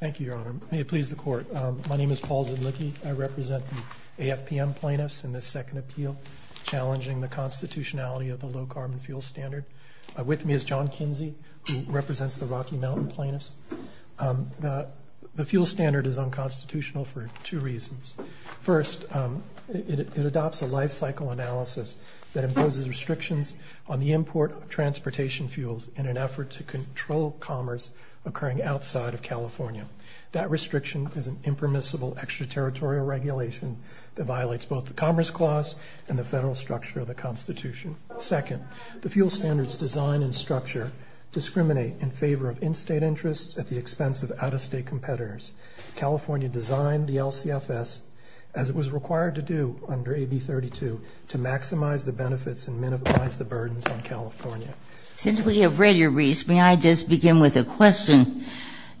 Thank you, Your Honor. May it please the Court. My name is Paul Zedlicki. I represent the AFPM plaintiffs in this second appeal challenging the constitutionality of the low-carbon fuel standard. With me is John Kinsey, who represents the Rocky Mountain plaintiffs. The fuel standard is unconstitutional for two reasons. First, it adopts a life-cycle analysis that imposes restrictions on the import of transportation fuels in an effort to control commerce occurring outside of California. That restriction is an impermissible extraterritorial regulation that violates both the Commerce Clause and the federal structure of the Constitution. Second, the fuel standards design and structure discriminate in favor of in-state interests at the expense of out-of-state competitors. California designed the LCFS as it was required to do under AB 32 to maximize the benefits and minimize the burdens on the consumer. And with a question,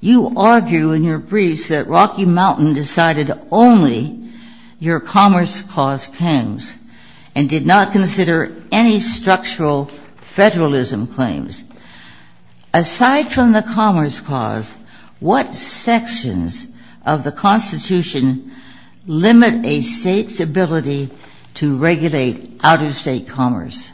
you argue in your briefs that Rocky Mountain decided only your Commerce Clause claims and did not consider any structural federalism claims. Aside from the Commerce Clause, what sections of the Constitution limit a state's ability to regulate out-of-state commerce?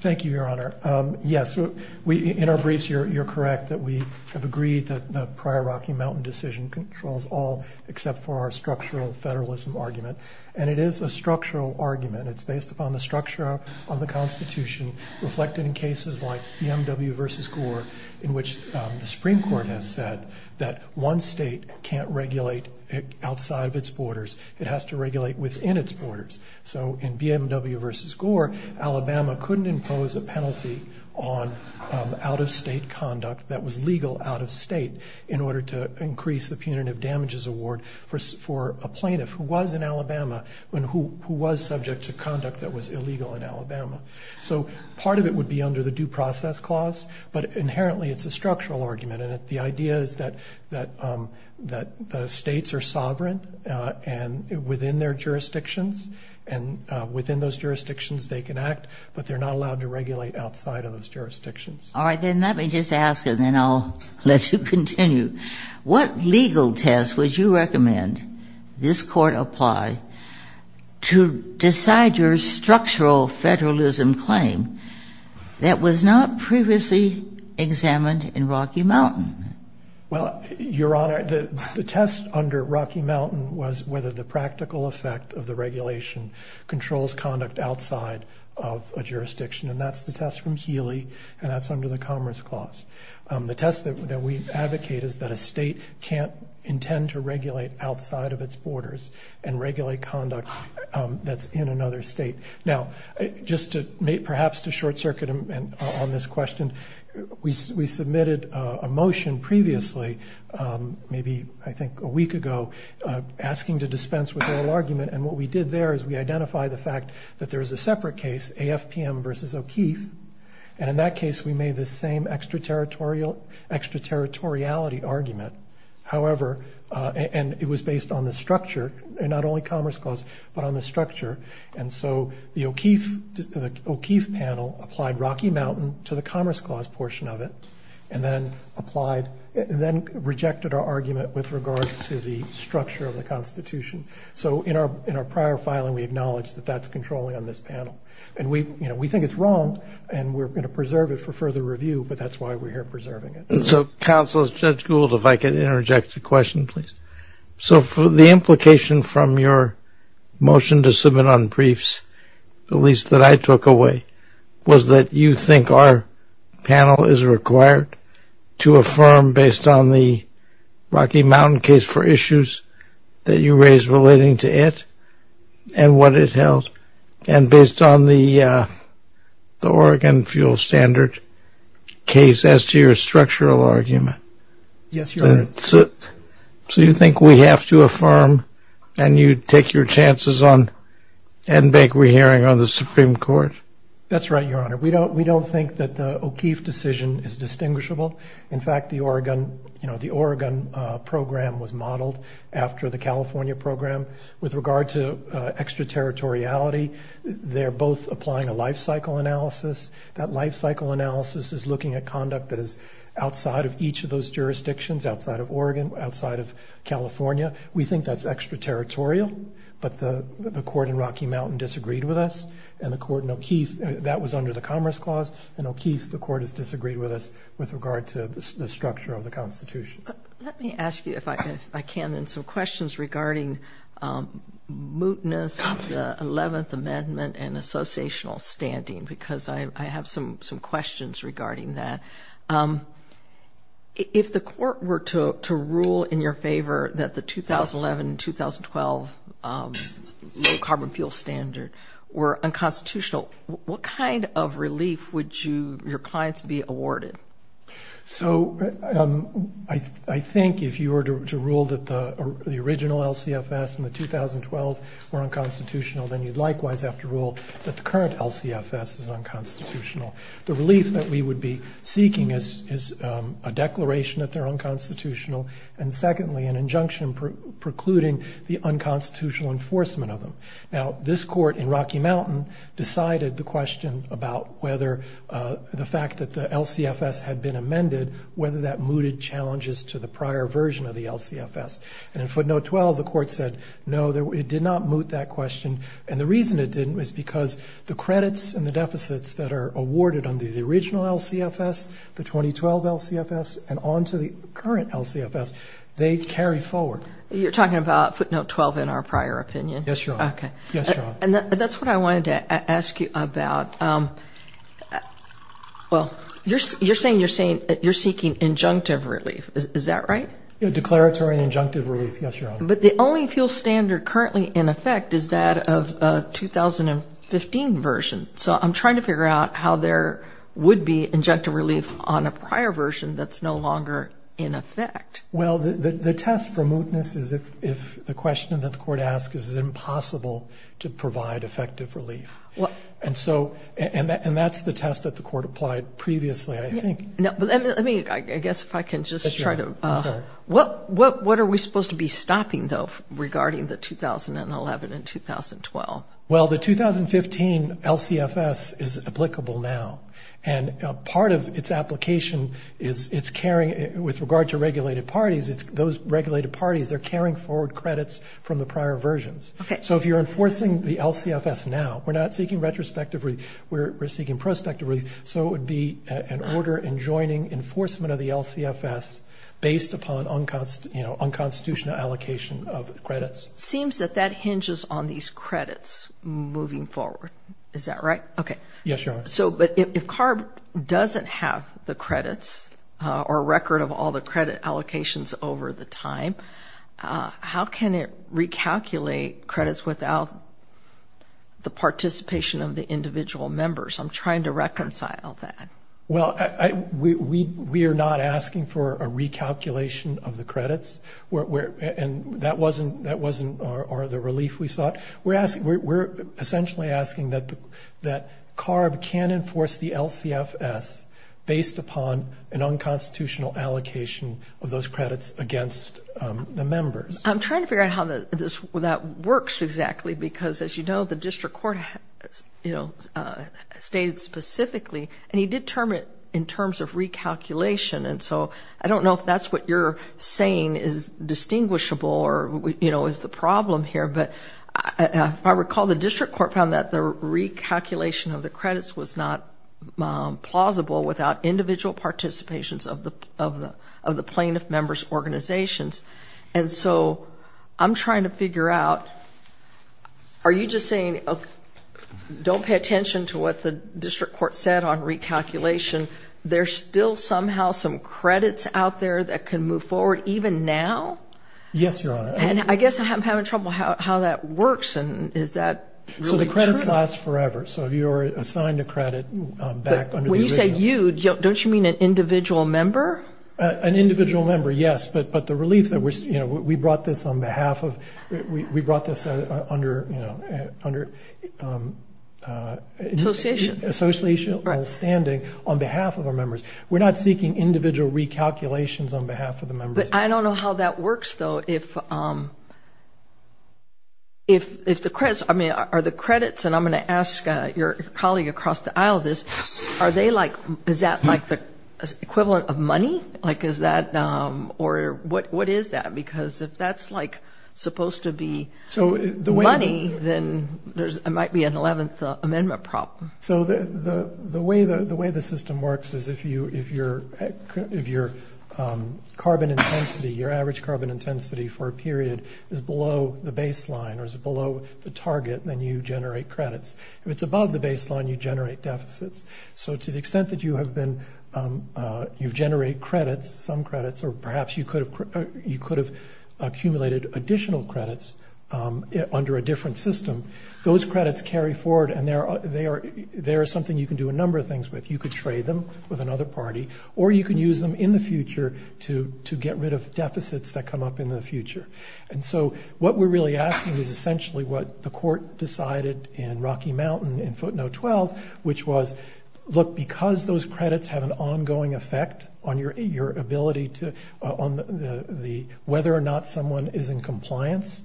Thank you, Your Honor. Yes, in our briefs you're correct that we have agreed that the prior Rocky Mountain decision controls all except for our structural federalism argument. And it is a structural argument. It's based upon the structure of the Constitution reflected in cases like BMW v. Gore in which the Supreme Court has said that one state can't regulate outside of its borders. It has to regulate within its borders. So in BMW v. Gore, Alabama couldn't impose a penalty on out-of-state conduct that was legal out-of-state in order to increase the punitive damages award for a plaintiff who was in Alabama and who was subject to conduct that was illegal in Alabama. So part of it would be under the Due Process Clause, but inherently it's a structural argument. And the idea is that the states are sovereign and within their jurisdictions. And within those jurisdictions they can act, but they're not allowed to regulate outside of those jurisdictions. All right, then let me just ask and then I'll let you continue. What legal test would you recommend this court apply to decide your structural federalism claim that was not previously examined in Rocky Mountain? Well, Your Honor, the test under Rocky Mountain was whether the practical effect of the regulation controls conduct outside of a jurisdiction. And that's the test from Healy and that's under the Commerce Clause. The test that we advocate is that a state can't intend to regulate outside of its borders and regulate conduct that's in another state. Now, just to perhaps to short-circuit on this question, we submitted a motion previously, maybe I think a week ago, asking to dispense with oral argument. And what we did there is we identified the fact that there is a separate case, AFPM versus O'Keeffe. And in that case, we made the same extraterritoriality argument. However, and it was based on the structure and not only Commerce Clause, but on the structure. And so the O'Keeffe panel applied Rocky Mountain to the Commerce Clause portion of it and then applied, then rejected our argument with regards to the structure of the Constitution. So in our prior filing, we acknowledge that that's controlling on this panel. And we, you know, we think it's wrong and we're going to preserve it for further review, but that's why we're here preserving it. So, Counselors, Judge Gould, if I could interject a question, please. So for the implication from your motion to submit on briefs, at least that I took away, was that you think our panel is required to affirm based on the Rocky Mountain case for issues that you raised relating to it and what it held and based on the Oregon Fuel Standard case as to your structural argument. Yes, Your Honor. So you think we have to affirm and you take your chances on and make a hearing on the Supreme Court? That's right, Your Honor. We don't think that the O'Keeffe decision is distinguishable. In fact, the Oregon, you know, the Oregon program was modeled after the California program. With regard to extraterritoriality, they're both applying a life-cycle analysis. That life-cycle analysis is looking at conduct that is outside of Oregon, outside of California. We think that's extraterritorial, but the court in Rocky Mountain disagreed with us and the court in O'Keeffe, that was under the Commerce Clause, and O'Keeffe, the court, has disagreed with us with regard to the structure of the Constitution. Let me ask you, if I can, then some questions regarding mootness of the 11th Amendment and associational standing, because I have some questions regarding that. If the court were to rule in your favor that the 2011-2012 low-carbon fuel standard were unconstitutional, what kind of relief would your clients be awarded? So I think if you were to rule that the original LCFS in the 2012 were unconstitutional, then you'd likewise have to rule that the current LCFS is unconstitutional. The relief that we would be seeking is a declaration that they're unconstitutional, and secondly, an injunction precluding the unconstitutional enforcement of them. Now, this court in Rocky Mountain decided the question about whether the fact that the LCFS had been amended, whether that mooted challenges to the prior version of the LCFS. And in footnote 12, the court said, no, it did not moot that question, and the reason it didn't was because the credits and the deficits that are awarded under the original LCFS, the 2012 LCFS, and on to the current LCFS, they carry forward. You're talking about footnote 12 in our prior opinion? Yes, Your Honor. Okay, and that's what I wanted to ask you about. Well, you're saying you're seeking injunctive relief, is that right? Declaratory injunctive relief, yes, Your Honor. But the only field standard currently in effect is that of 2015 version, so I'm trying to figure out how there would be injunctive relief on a prior version that's no longer in effect. Well, the test for mootness is if the question that the court asks is it impossible to provide effective relief? Well, and so, and that's the test that the court applied previously, I think. No, but let me, I guess if I can just try to, what are we supposed to be stopping, though, regarding the 2011 and 2012? Well, the 2015 LCFS is applicable now, and part of its application is it's carrying, with regard to regulated parties, it's those regulated parties, they're carrying forward credits from the prior versions. Okay. So if you're enforcing the LCFS now, we're not seeking retrospective relief, we're seeking prospective relief, so it would be an order enjoining enforcement of the LCFS based upon unconstitutional allocation of credits. Seems that that hinges on these credits moving forward, is that right? Okay. Yes, Your Honor. So, but if CARB doesn't have the credits or record of all the credit allocations over the time, how can it recalculate credits without the participation of the individual members? I'm trying to reconcile that. Well, we are not asking for a recalculation of the credits, and that wasn't the relief we sought. We're essentially asking that CARB can enforce the LCFS based upon an unconstitutional allocation of those credits against the members. I'm trying to figure out how that works exactly, because as you know, the district court, you know, stated specifically, and he did term it in terms of recalculation. And so I don't know if that's what you're saying is distinguishable or, you know, is the problem here, but if I recall, the district court found that the recalculation of the credits was not plausible without individual participations of the plaintiff members' organizations. And so I'm trying to figure out, are you just saying, don't pay attention to what the district court said on recalculation. There's still somehow some credits out there that can move forward even now? Yes, Your Honor. And I guess I'm having trouble how that works, and is that really true? So the credits last forever. So you're assigned a credit back under the original. When you say you, don't you mean an individual member? An individual member, yes. But the relief that we're, you know, we brought this on behalf of, we brought this under, you know, under... Association. ...associational standing on behalf of our members. We're not seeking individual recalculations on behalf of the members. But I don't know how that works, though, if the credits, I mean, are the credits, and I'm going to ask your colleague across the aisle this, are they like, is that like the equivalent of money? Like, is that, or what is that? Because if that's like supposed to be money, then there might be an 11th Amendment problem. So the way the system works is if your carbon intensity, your average carbon intensity for a period is below the baseline, or is below the target, then you generate credits. If it's above the baseline, you generate deficits. So to the extent that you have been, you generate credits, some credits, or perhaps you could have accumulated additional credits under a different system, those credits carry forward and they are something you can do a number of things with. You could trade them with another party, or you can use them in the future to get rid of deficits that come up in the future. And so what we're really asking is essentially what the court decided in Rocky Mountain in footnote 12, which was, look, because those credits have an ongoing effect on your ability to, on the, whether or not someone is in compliance,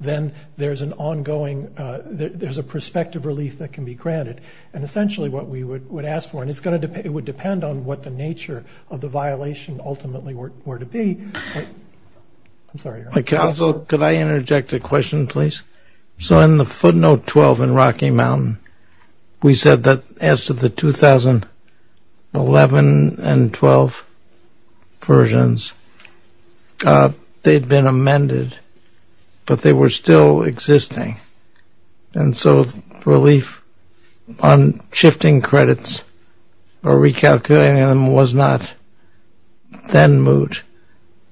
then there's an ongoing, there's a prospective relief that can be granted. And essentially what we would ask for, and it's going to, it would depend on what the nature of the violation ultimately were to be, I'm sorry. Also, could I interject a question, please? So in the footnote 12 in Rocky Mountain, we said that as to the 2011 and 12 versions, they'd been amended, but they were still existing. And so relief on shifting credits or recalculating them was not then moot.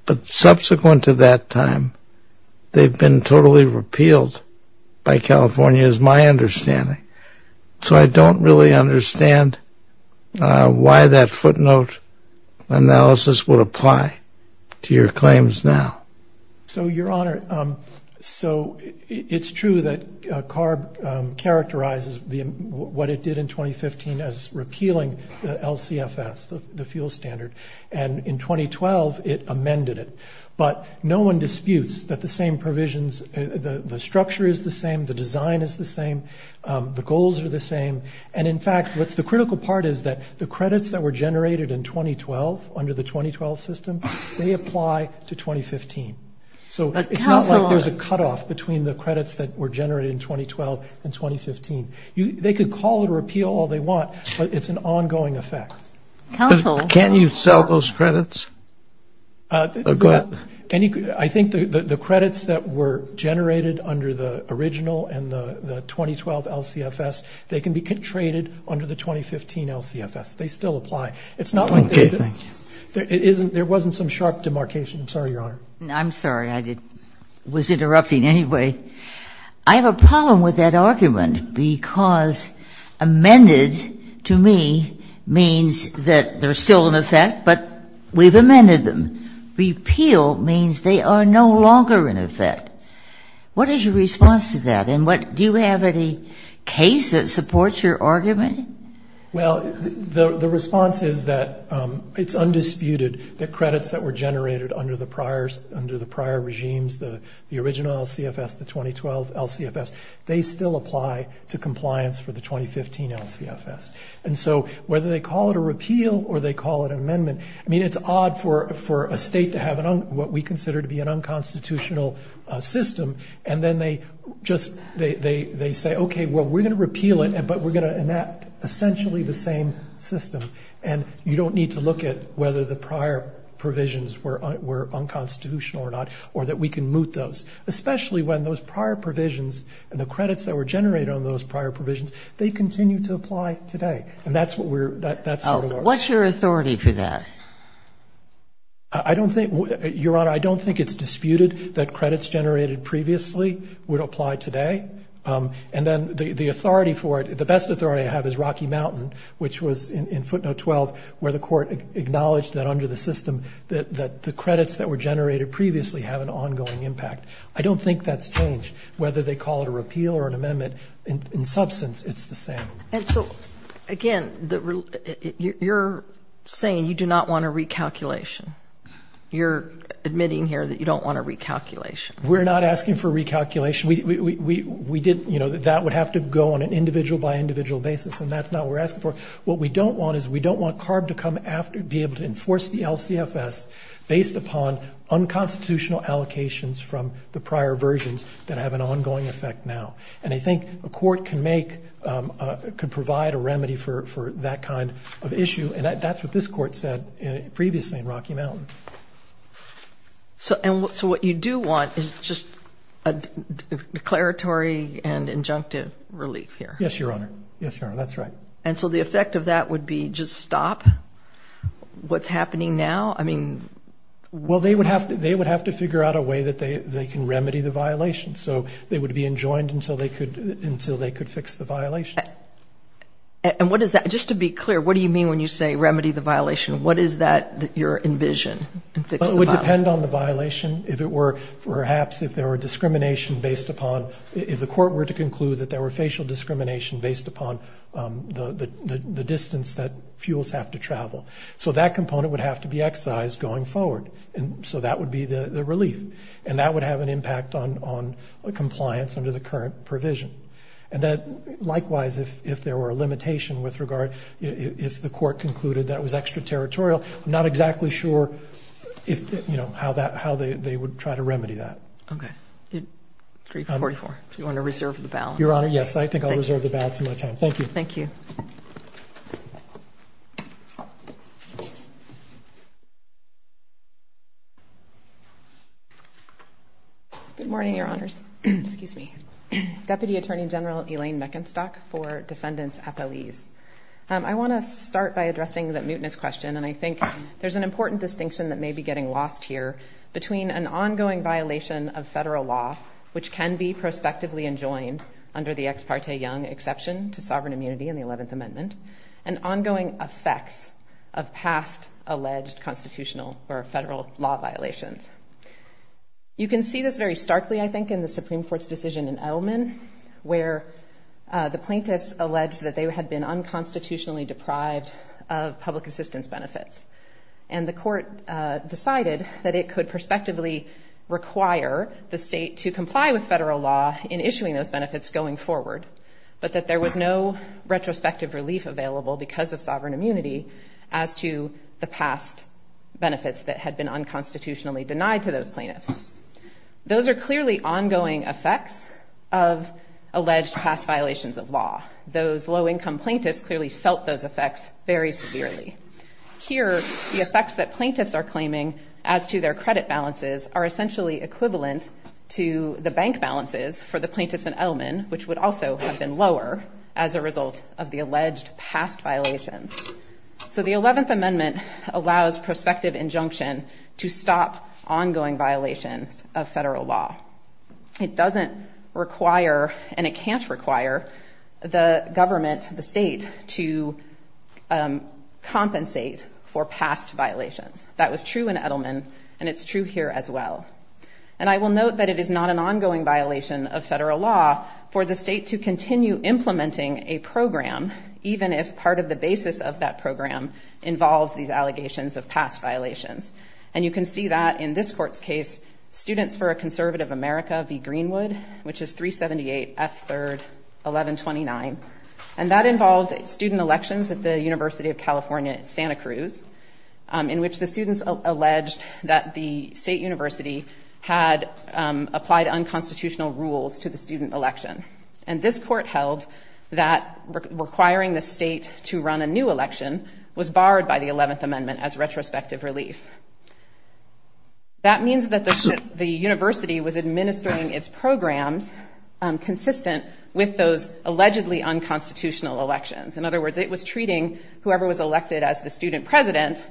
But subsequent to that time, they've been totally repealed by California, is my understanding. So I don't really understand why that footnote analysis would apply to your claims now. So, Your Honor, so it's true that CARB characterizes what it did in 2015 as repealing the LCFS, the fuel standard. And in 2012, it amended it. But no one disputes that the same provisions, the structure is the same, the design is the same, the goals are the same. And in fact, what's the critical part is that the credits that were generated in 2012 under the 2012 system, they apply to 2015. So it's not like there's a cutoff between the credits that were generated in 2012 and 2015. They could call it a repeal all they want, but it's an ongoing effect. Counsel. Can you sell those credits? I think the credits that were generated under the original and the 2012 LCFS, they can be traded under the 2015 LCFS. They still apply. It's not like there wasn't some sharp demarcation. I'm sorry, Your Honor. I'm sorry. I was interrupting anyway. I have a problem with that argument because amended to me means that they're still in effect, but we've amended them. Repeal means they are no longer in effect. What is your response to that? And do you have any case that supports your argument? Well, the response is that it's undisputed that credits that were generated under the prior regimes, the original LCFS, the 2012 LCFS, they still apply to compliance for the 2015 LCFS. And so whether they call it a repeal or they call it an amendment, I mean, it's odd for a state to have what we consider to be an unconstitutional system. And then they say, okay, well, we're going to repeal it, but we're going to enact essentially the same system. And you don't need to look at whether the prior provisions were unconstitutional or not, or that we can moot those. Especially when those prior provisions and the credits that were generated on those prior provisions, they continue to apply today. And that's what we're, that's sort of our- What's your authority to that? I don't think, Your Honor, I don't think it's disputed that credits generated previously would apply today. And then the authority for it, the best authority I have is Rocky Mountain, which was in footnote 12, where the court acknowledged that under the system that the credits that were generated previously have an ongoing impact. I don't think that's changed. Whether they call it a repeal or an amendment, in substance, it's the same. And so, again, you're saying you do not want a recalculation. You're admitting here that you don't want a recalculation. We're not asking for recalculation. We did, you know, that would have to go on an individual by individual basis, and that's not what we're asking for. What we don't want is we don't want CARB to come after, be able to enforce the LCFS based upon unconstitutional allocations from the prior versions that have an ongoing effect now. And I think a court can make, can provide a remedy for that kind of issue. And that's what this court said previously in Rocky Mountain. So, and so what you do want is just a declaratory and injunctive relief here. Yes, Your Honor. Yes, Your Honor. That's right. And so the effect of that would be just stop what's happening now? I mean... Well, they would have to, they would have to figure out a way that they can remedy the violation. So they would be enjoined until they could, until they could fix the violation. And what is that? Just to be clear, what do you mean when you say remedy the violation? What is that you envision? It would depend on the violation. If it were, perhaps if there were discrimination based upon, if the court were to conclude that there were facial discrimination based upon the distance that fuels have to travel. So that component would have to be excised going forward. And so that would be the relief. And that would have an impact on compliance under the current provision. And that, likewise, if there were a limitation with regard, if the court concluded that it was extraterritorial, I'm not exactly sure if, you know, how that, how they would try to remedy that. Okay. 344, if you want to reserve the balance. Your Honor, yes, I think I'll reserve the balance of my time. Thank you. Thank you. Good morning, Your Honors. Excuse me. Deputy Attorney General Elaine Meckenstock for Defendants' Appealese. I want to start by addressing the mootness question, and I think there's an important distinction that may be getting lost here, between an ongoing violation of federal law, which can be prospectively enjoined under the Ex parte Young exception to sovereign immunity in the 11th Amendment, and ongoing effects of past alleged constitutional or federal law violations. You can see this very starkly, I think, in the Supreme Court's decision in Edelman, where the plaintiffs alleged that they had been unconstitutionally deprived of public assistance benefits. And the court decided that it could prospectively require the state to comply with federal law in issuing those benefits going forward, but that there was no retrospective relief available because of sovereign Those are clearly ongoing effects of alleged past violations of law. Those low-income plaintiffs clearly felt those effects very severely. Here, the effects that plaintiffs are claiming as to their credit balances are essentially equivalent to the bank balances for the plaintiffs in Edelman, which would also have been lower as a result of the alleged past violations. So the 11th Amendment allows prospective injunction to stop ongoing violations of federal law. It doesn't require, and it can't require, the government, the state to compensate for past violations. That was true in Edelman, and it's true here as well. And I will note that it is not an ongoing violation of federal law for the state to continue implementing a program, even if part of the basis of that program involves these allegations of past violations. And you can see that in this court's case, Students for a Conservative America v. Greenwood, which is 378 F. 3rd, 1129. And that involved student elections at the University of California, Santa Cruz, in which the students alleged that the state university had applied unconstitutional rules to the student election. And this court held that requiring the state to run a new election was barred by the 11th Amendment as retrospective relief. That means that the university was administering its programs consistent with those allegedly unconstitutional elections. In other words, it was treating whoever was elected as the student president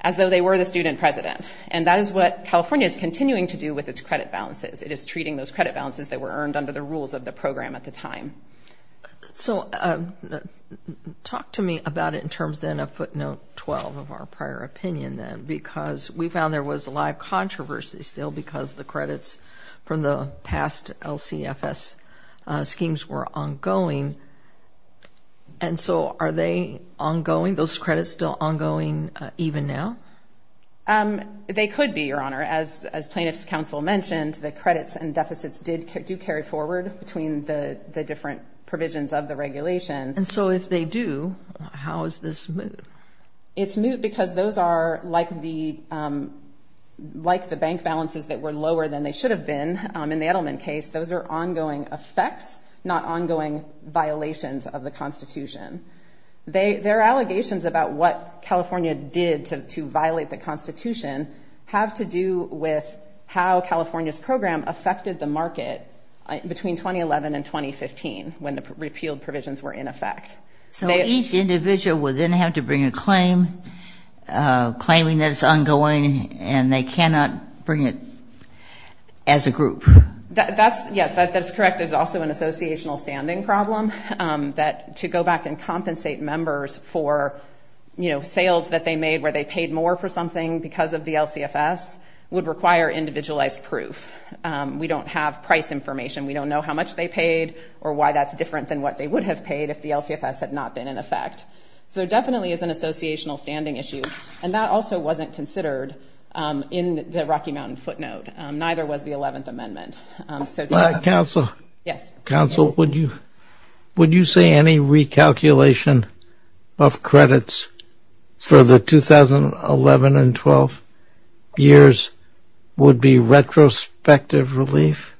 as though they were the student president. And that is what California is continuing to do with its credit balances. It is treating those credit balances that were earned under the rules of the program at the time. So talk to me about it in terms then of footnote 12 of our prior opinion, then, because we found there was a live controversy still because the credits from the past LCFS schemes were ongoing. And so are they ongoing, those credits still ongoing even now? They could be, Your Honor. As plaintiff's counsel mentioned, the credits and deficits do carry forward between the different provisions of the regulation. And so if they do, how is this moot? It's moot because those are like the bank balances that were lower than they should have been in the Edelman case. Those are ongoing effects, not ongoing violations of the constitution. There are allegations about what California did to violate the constitution have to do with how California's program affected the market between 2011 and 2015 when the repealed provisions were in effect. So each individual would then have to bring a claim, claiming that it's ongoing and they cannot bring it as a group. That's yes, that's correct. There's also an associational standing problem that to go back and compensate members for, you know, sales that they made where they paid more for something because of the LCFS would require individualized proof. We don't have price information. We don't know how much they paid or why that's different than what they would have paid if the LCFS had not been in effect. So there definitely is an associational standing issue. And that also wasn't considered in the Rocky Mountain footnote. Neither was the 11th amendment. So counsel, yes, counsel, would you, would you say any recalculation of credits for the 2011 and 12 years would be retrospective relief?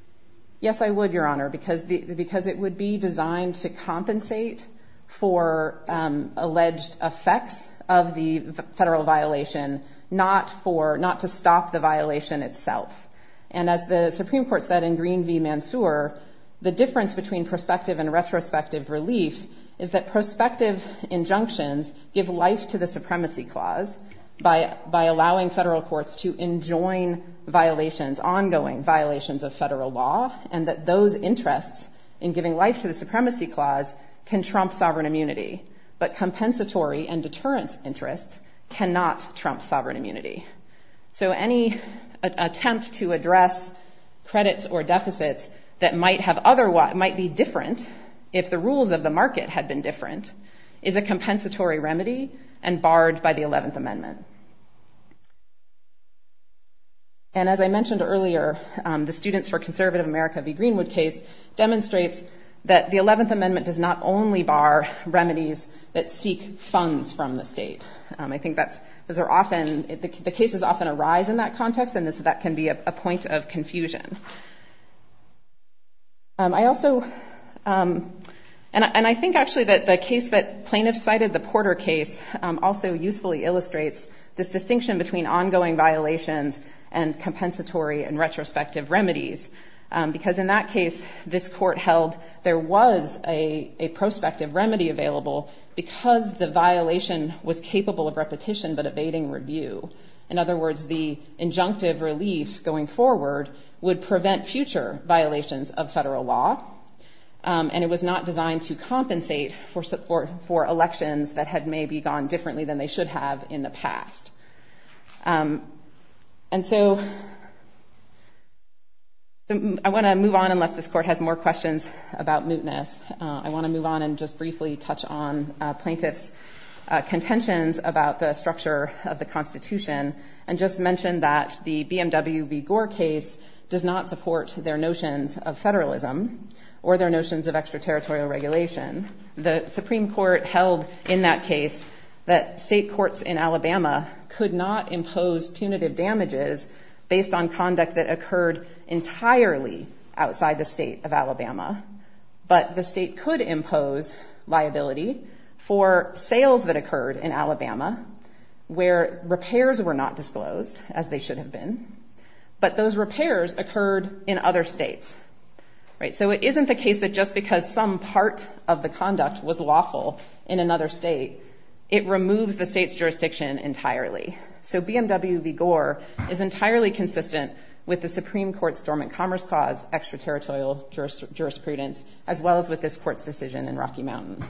Yes, I would, your honor, because the, because it would be designed to compensate for alleged effects of the federal violation, not for not to stop the violation itself. And as the Supreme court said in green V Mansour, the difference between prospective and retrospective relief is that prospective injunctions give life to the supremacy clause by, by allowing federal courts to enjoin violations, ongoing violations of federal law, and that those interests in giving life to the supremacy clause can trump sovereign immunity, but compensatory and deterrence interests cannot trump sovereign immunity. So any attempt to address credits or deficits that might have other, what might be different if the rules of the market had been different is a compensatory remedy and barred by the 11th amendment. And as I mentioned earlier, the students for conservative America V Greenwood case demonstrates that the 11th amendment does not only bar remedies that seek funds from the state. I think that's, those are often the cases often arise in that context and this, that can be a point of confusion. I also, and I think actually that the case that plaintiffs cited the Porter case also usefully illustrates this distinction between ongoing violations and compensatory and retrospective remedies. Because in that case, this court held there was a prospective remedy available because the remedy was capable of repetition, but abating review. In other words, the injunctive relief going forward would prevent future violations of federal law. And it was not designed to compensate for support for elections that had maybe gone differently than they should have in the past. And so I want to move on unless this court has more questions about mootness. I want to move on and just briefly touch on plaintiff's contentions about the structure of the constitution. And just mentioned that the BMW V Gore case does not support their notions of federalism or their notions of extraterritorial regulation. The Supreme court held in that case that state courts in Alabama could not impose punitive damages based on conduct that occurred entirely outside the state of Alabama. But the state could impose liability for sales that occurred in Alabama where repairs were not disclosed as they should have been, but those repairs occurred in other states, right? So it isn't the case that just because some part of the conduct was lawful in another state, it removes the state's jurisdiction entirely. So BMW V Gore is entirely consistent with the Supreme court's dormant commerce cause extraterritorial jurisprudence, as well as with this court's decision in Rocky Mountain.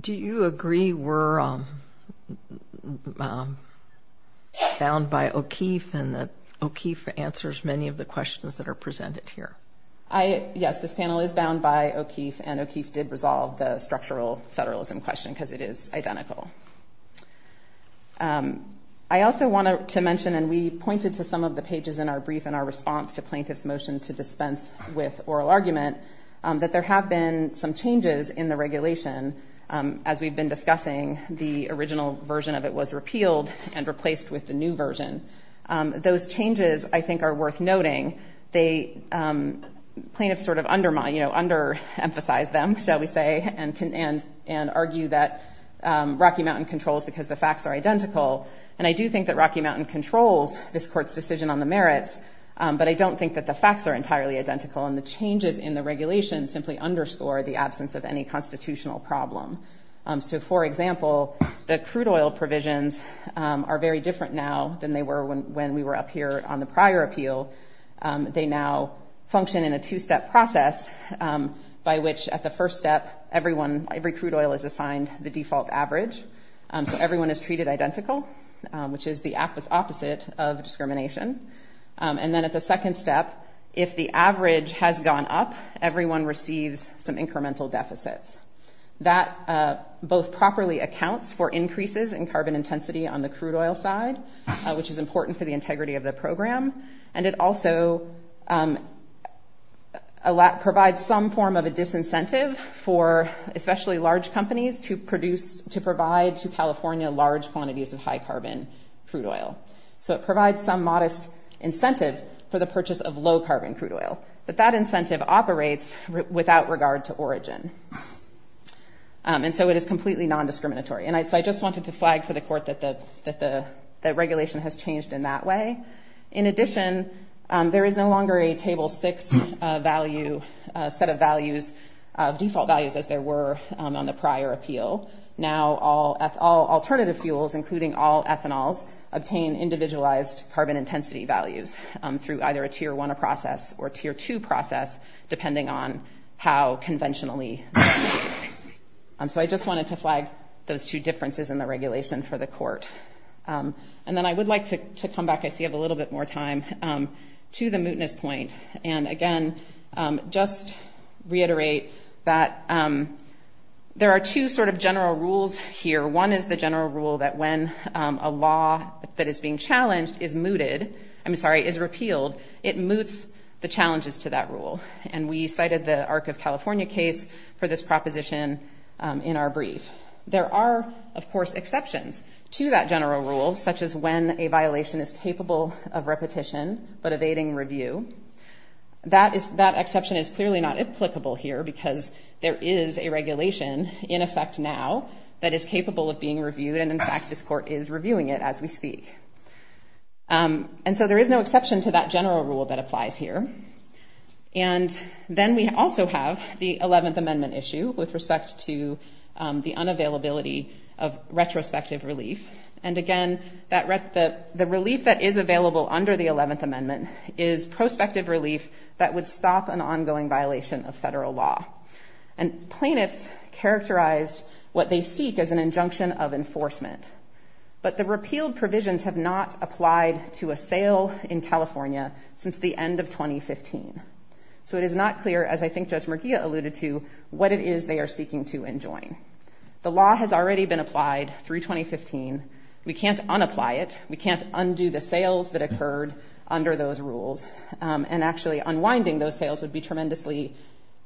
Do you agree we're bound by O'Keefe and that O'Keefe answers many of the questions that are presented here? I, yes, this panel is bound by O'Keefe and O'Keefe did resolve the structural federalism question because it is identical. I also want to mention, and we pointed to some of the pages in our brief and our response to plaintiffs motion to dispense with oral argument that there have been some changes in the regulation. As we've been discussing the original version of it was repealed and replaced with the new version. Those changes I think are worth noting. They plaintiffs sort of undermine, you know, under emphasize them shall we say and can and, and argue that Rocky Mountain controls because the facts are identical. And I do think that Rocky Mountain controls this court's decision on the merits. But I don't think that the facts are entirely identical and the changes in the regulation simply underscore the absence of any constitutional problem. So for example, the crude oil provisions are very different now than they were when, when we were up here on the prior appeal. They now function in a two-step process by which at the first step, everyone, every crude oil is assigned the default average. So everyone is treated identical, which is the opposite of discrimination. And then at the second step, if the average has gone up, everyone receives some incremental deficits that both properly accounts for increases in carbon intensity on the crude oil side, which is important for the integrity of the program. And it also provides some form of a disincentive for especially large companies to produce, to provide to California large quantities of high carbon crude oil. So it provides some modest incentive for the purchase of low carbon crude oil, but that incentive operates without regard to origin. And so it is completely non-discriminatory. And I, so I just wanted to flag for the court that the, that the regulation has changed in that way. In addition, there is no longer a table six value set of values of default values as there were on the prior appeal. Now all alternative fuels, including all ethanol's obtain individualized carbon intensity values through either a tier one, a process or tier two process, depending on how conventionally. So I just wanted to flag those two differences in the regulation for the court. And then I would like to come back. I see I have a little bit more time to the mootness point. And again, just reiterate that there are two sort of general rules here. One is the general rule that when a law that is being challenged is mooted, I'm sorry, is repealed. It moots the challenges to that rule. And we cited the arc of California case for this proposition. In our brief, there are of course exceptions to that general rule, such as when a violation is capable of repetition, but evading review, that is that exception is clearly not applicable here because there is a regulation in effect now that is capable of being reviewed. And in fact, this court is reviewing it as we speak. And so there is no exception to that general rule that applies here. And then we also have the 11th amendment issue with respect to the unavailability of retrospective relief. And again, the relief that is available under the 11th amendment is prospective relief that would stop an ongoing violation of federal law. And plaintiffs characterized what they seek as an injunction of enforcement, but the repealed provisions have not applied to a sale in California since the end of 2015. So it is not clear as I think Judge McGee alluded to what it is they are seeking to enjoin. The law has already been applied through 2015. We can't unapply it. We can't undo the sales that occurred under those rules. And actually unwinding those sales would be tremendously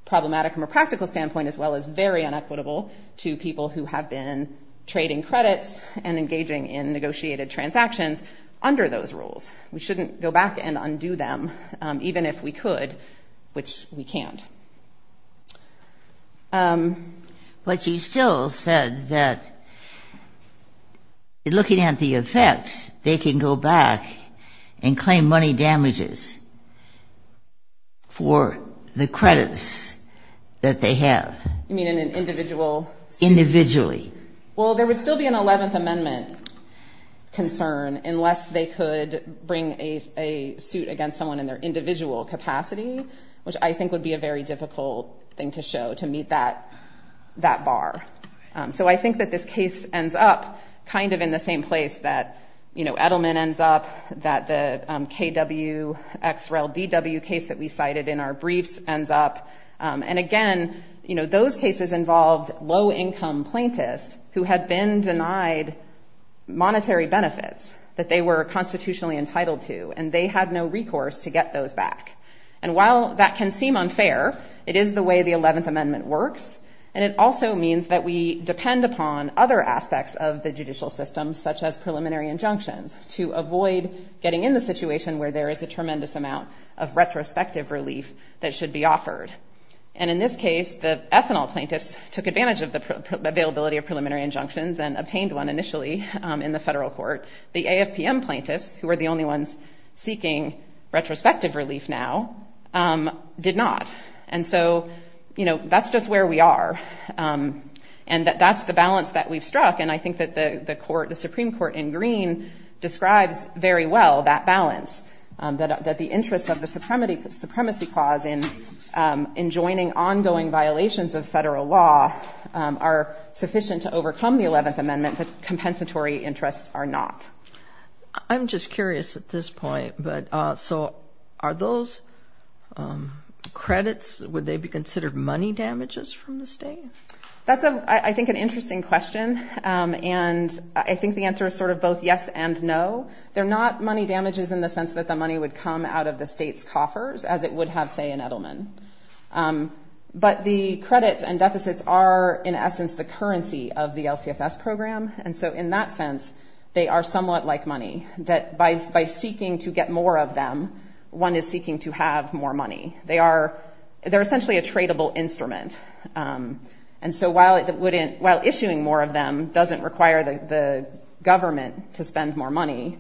problematic from a practical standpoint, as well as very inequitable to people who have been trading credits and engaging in negotiated transactions under those rules. We shouldn't go back and undo them even if we could, which we can't. But you still said that looking at the effects, they can go back and claim money damages for the credits that they have. You mean in an individual suit? Individually. Well, there would still be an 11th amendment concern unless they could bring a suit against someone in their individual capacity, which I think would be a very difficult thing to show to meet that bar. So I think that this case ends up kind of in the same place that Edelman ends up, that the KWXRELDW case that we cited in our briefs ends up. And again, those cases involved low-income plaintiffs who had been denied monetary benefits that they were constitutionally entitled to, and they had no recourse to get those back. And while that can seem unfair, it is the way the 11th amendment works, and it also means that we depend upon other aspects of the judicial system, such as preliminary injunctions, to avoid getting in the situation where there is a tremendous amount of retrospective relief that should be offered. And in this case, the ethanol plaintiffs took advantage of the availability of preliminary injunctions and obtained one initially in the federal court. The AFPM plaintiffs, who are the only ones seeking retrospective relief now, did not. And so, you know, that's just where we are. And that's the balance that we've struck, and I think that the Supreme Court in Green describes very well that balance, that the interests of the supremacy clause in enjoining ongoing violations of federal law are sufficient to overcome the 11th amendment, but compensatory interests are not. I'm just curious at this point, but so are those credits, would they be considered money damages from the state? That's, I think, an interesting question. And I think the answer is sort of both yes and no. They're not money damages in the sense that the money would come out of the state's coffers, as it would have, say, in Edelman. But the credits and deficits are, in essence, the currency of the LCFS program. And so in that sense, they are somewhat like money, that by seeking to get more of them, one is seeking to have more money. They are essentially a tradable instrument. And so while issuing more of them doesn't require the government to spend more money,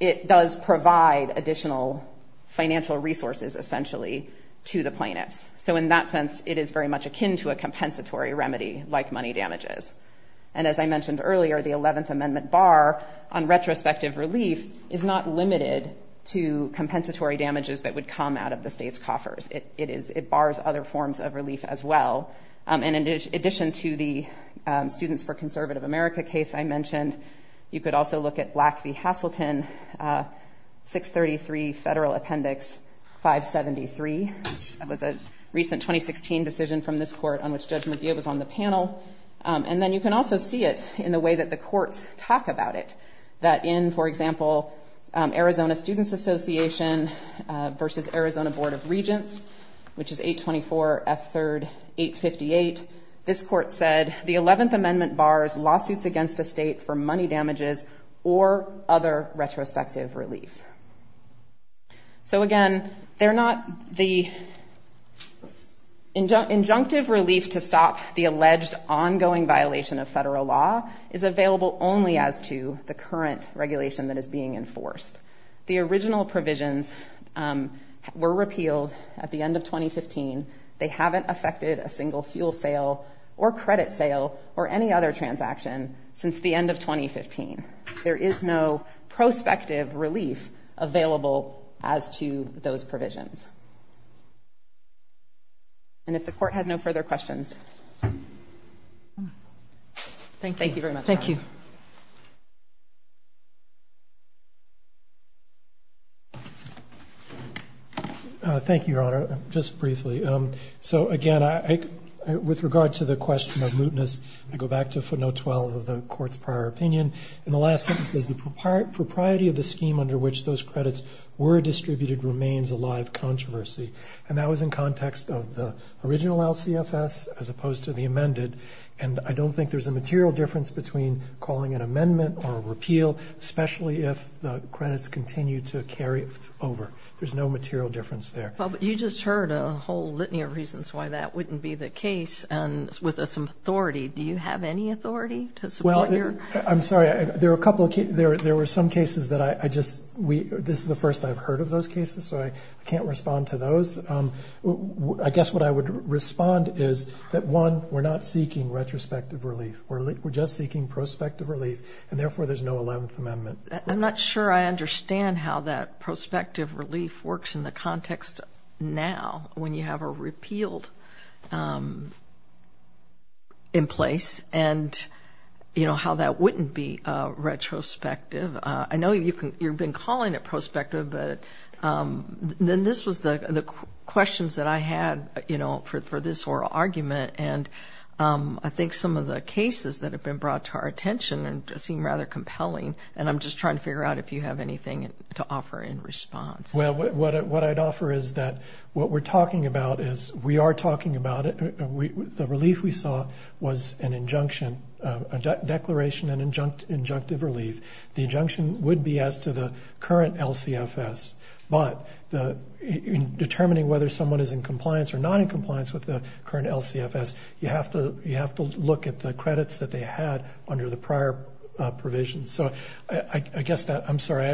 it does provide additional financial resources, essentially, to the plaintiffs. So in that sense, it is very much akin to a compensatory remedy, like money damages. And as I mentioned earlier, the 11th amendment bar on retrospective relief is not limited to compensatory damages that would come out of the state's coffers. It bars other forms of relief as well. And in addition to the Students for Conservative America case I mentioned, you could also look at Black v. Hassleton, 633 Federal Appendix 573. That was a recent 2016 decision from this court on which Judge McGeough was on the panel. And then you can also see it in the way that the courts talk about it, that in, for example, Arizona Students Association versus Arizona Board of Regents, which is 824 F. 3rd 858, this court said, the 11th amendment bars lawsuits against a state for money damages or other retrospective relief. So again, the injunctive relief to stop the alleged ongoing violation of federal law is available only as to the current regulation that is being enforced. The original provisions were repealed at the end of 2015. They haven't affected a single fuel sale or credit sale or any other transaction since the end of 2015. There is no prospective relief available as to those provisions. And if the court has no further questions. Thank you very much. Thank you. Thank you, Your Honor. Just briefly. So again, with regard to the question of mootness, I go back to footnote 12 of the court's prior opinion. In the last sentence, the propriety of the scheme under which those credits were distributed remains a live controversy. And that was in context of the original LCFS as opposed to the amended. And I don't think there's a material difference between calling an amendment or a repeal, especially if the credits continue to carry over. There's no material difference there. But you just heard a whole litany of reasons why that wouldn't be the case. And with some authority, do you have any authority to support your. I'm sorry. There are a couple of cases. There were some cases that I just. This is the first I've heard of those cases. So I can't respond to those. I guess what I would respond is that one, we're not seeking retrospective relief. We're just seeking prospective relief. And therefore, there's no 11th Amendment. I'm not sure I understand how that prospective relief works in the context now when you have a repealed in place and, you know, how that wouldn't be retrospective. I know you've been calling it prospective, but then this was the questions that I had, you know, for this oral argument. And I think some of the cases that have been brought to our attention seem rather compelling. And I'm just trying to figure out if you have anything to offer in response. Well, what I'd offer is that what we're talking about is we are talking about it. The relief we saw was an injunction, a declaration, an injunctive relief. The injunction would be as to the current LCFS. But in determining whether someone is in compliance or not in compliance with the current LCFS, you have to look at the credits that they had under the prior provisions. So I guess that – I'm sorry,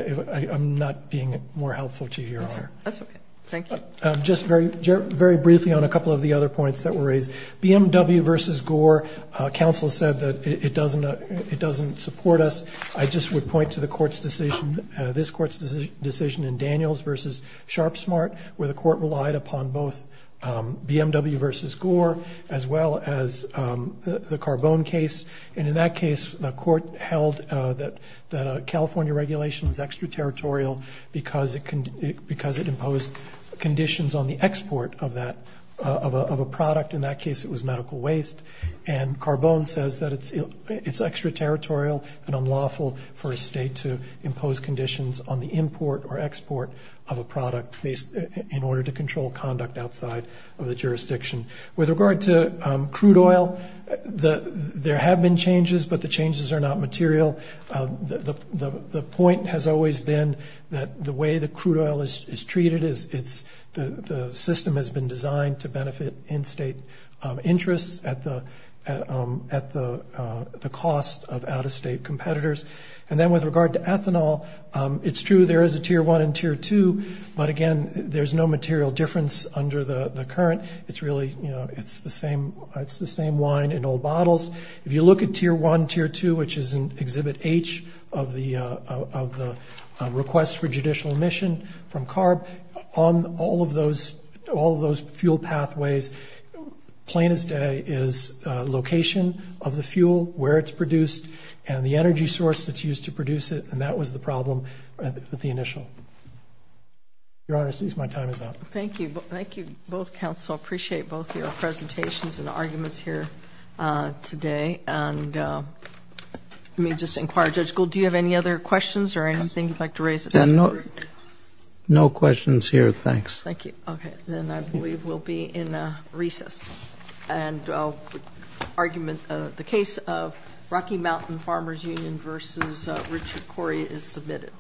I'm not being more helpful to you here. That's okay. Thank you. Just very briefly on a couple of the other points that were raised. BMW v. Gore, counsel said that it doesn't support us. I just would point to the court's decision, this court's decision in Daniels v. Sharpsmart, where the court relied upon both BMW v. Gore as well as the Carbone case. And in that case, the court held that a California regulation was extraterritorial because it imposed conditions on the export of a product. In that case, it was medical waste. And Carbone says that it's extraterritorial and unlawful for a state to impose conditions on the import or export of a product in order to control conduct outside of the jurisdiction. With regard to crude oil, there have been changes, but the changes are not material. The point has always been that the way that crude oil is treated is the system has been designed to benefit in-state interests at the cost of out-of-state competitors. And then with regard to ethanol, it's true there is a Tier 1 and Tier 2, but again, there's no material difference under the current. It's really, you know, it's the same wine in old bottles. If you look at Tier 1, Tier 2, which is in Exhibit H of the request for judicial admission from CARB, on all of those fuel pathways, plain as day is location of the fuel, where it's produced, and the energy source that's used to produce it, and that was the problem with the initial. Your Honor, it seems my time is up. Thank you. Thank you, both counsel. I appreciate both your presentations and arguments here today. And let me just inquire. Judge Gould, do you have any other questions or anything you'd like to raise? No questions here, thanks. Thank you. Okay. Then I believe we'll be in recess. And the case of Rocky Mountain Farmers Union v. Richard Corey is submitted.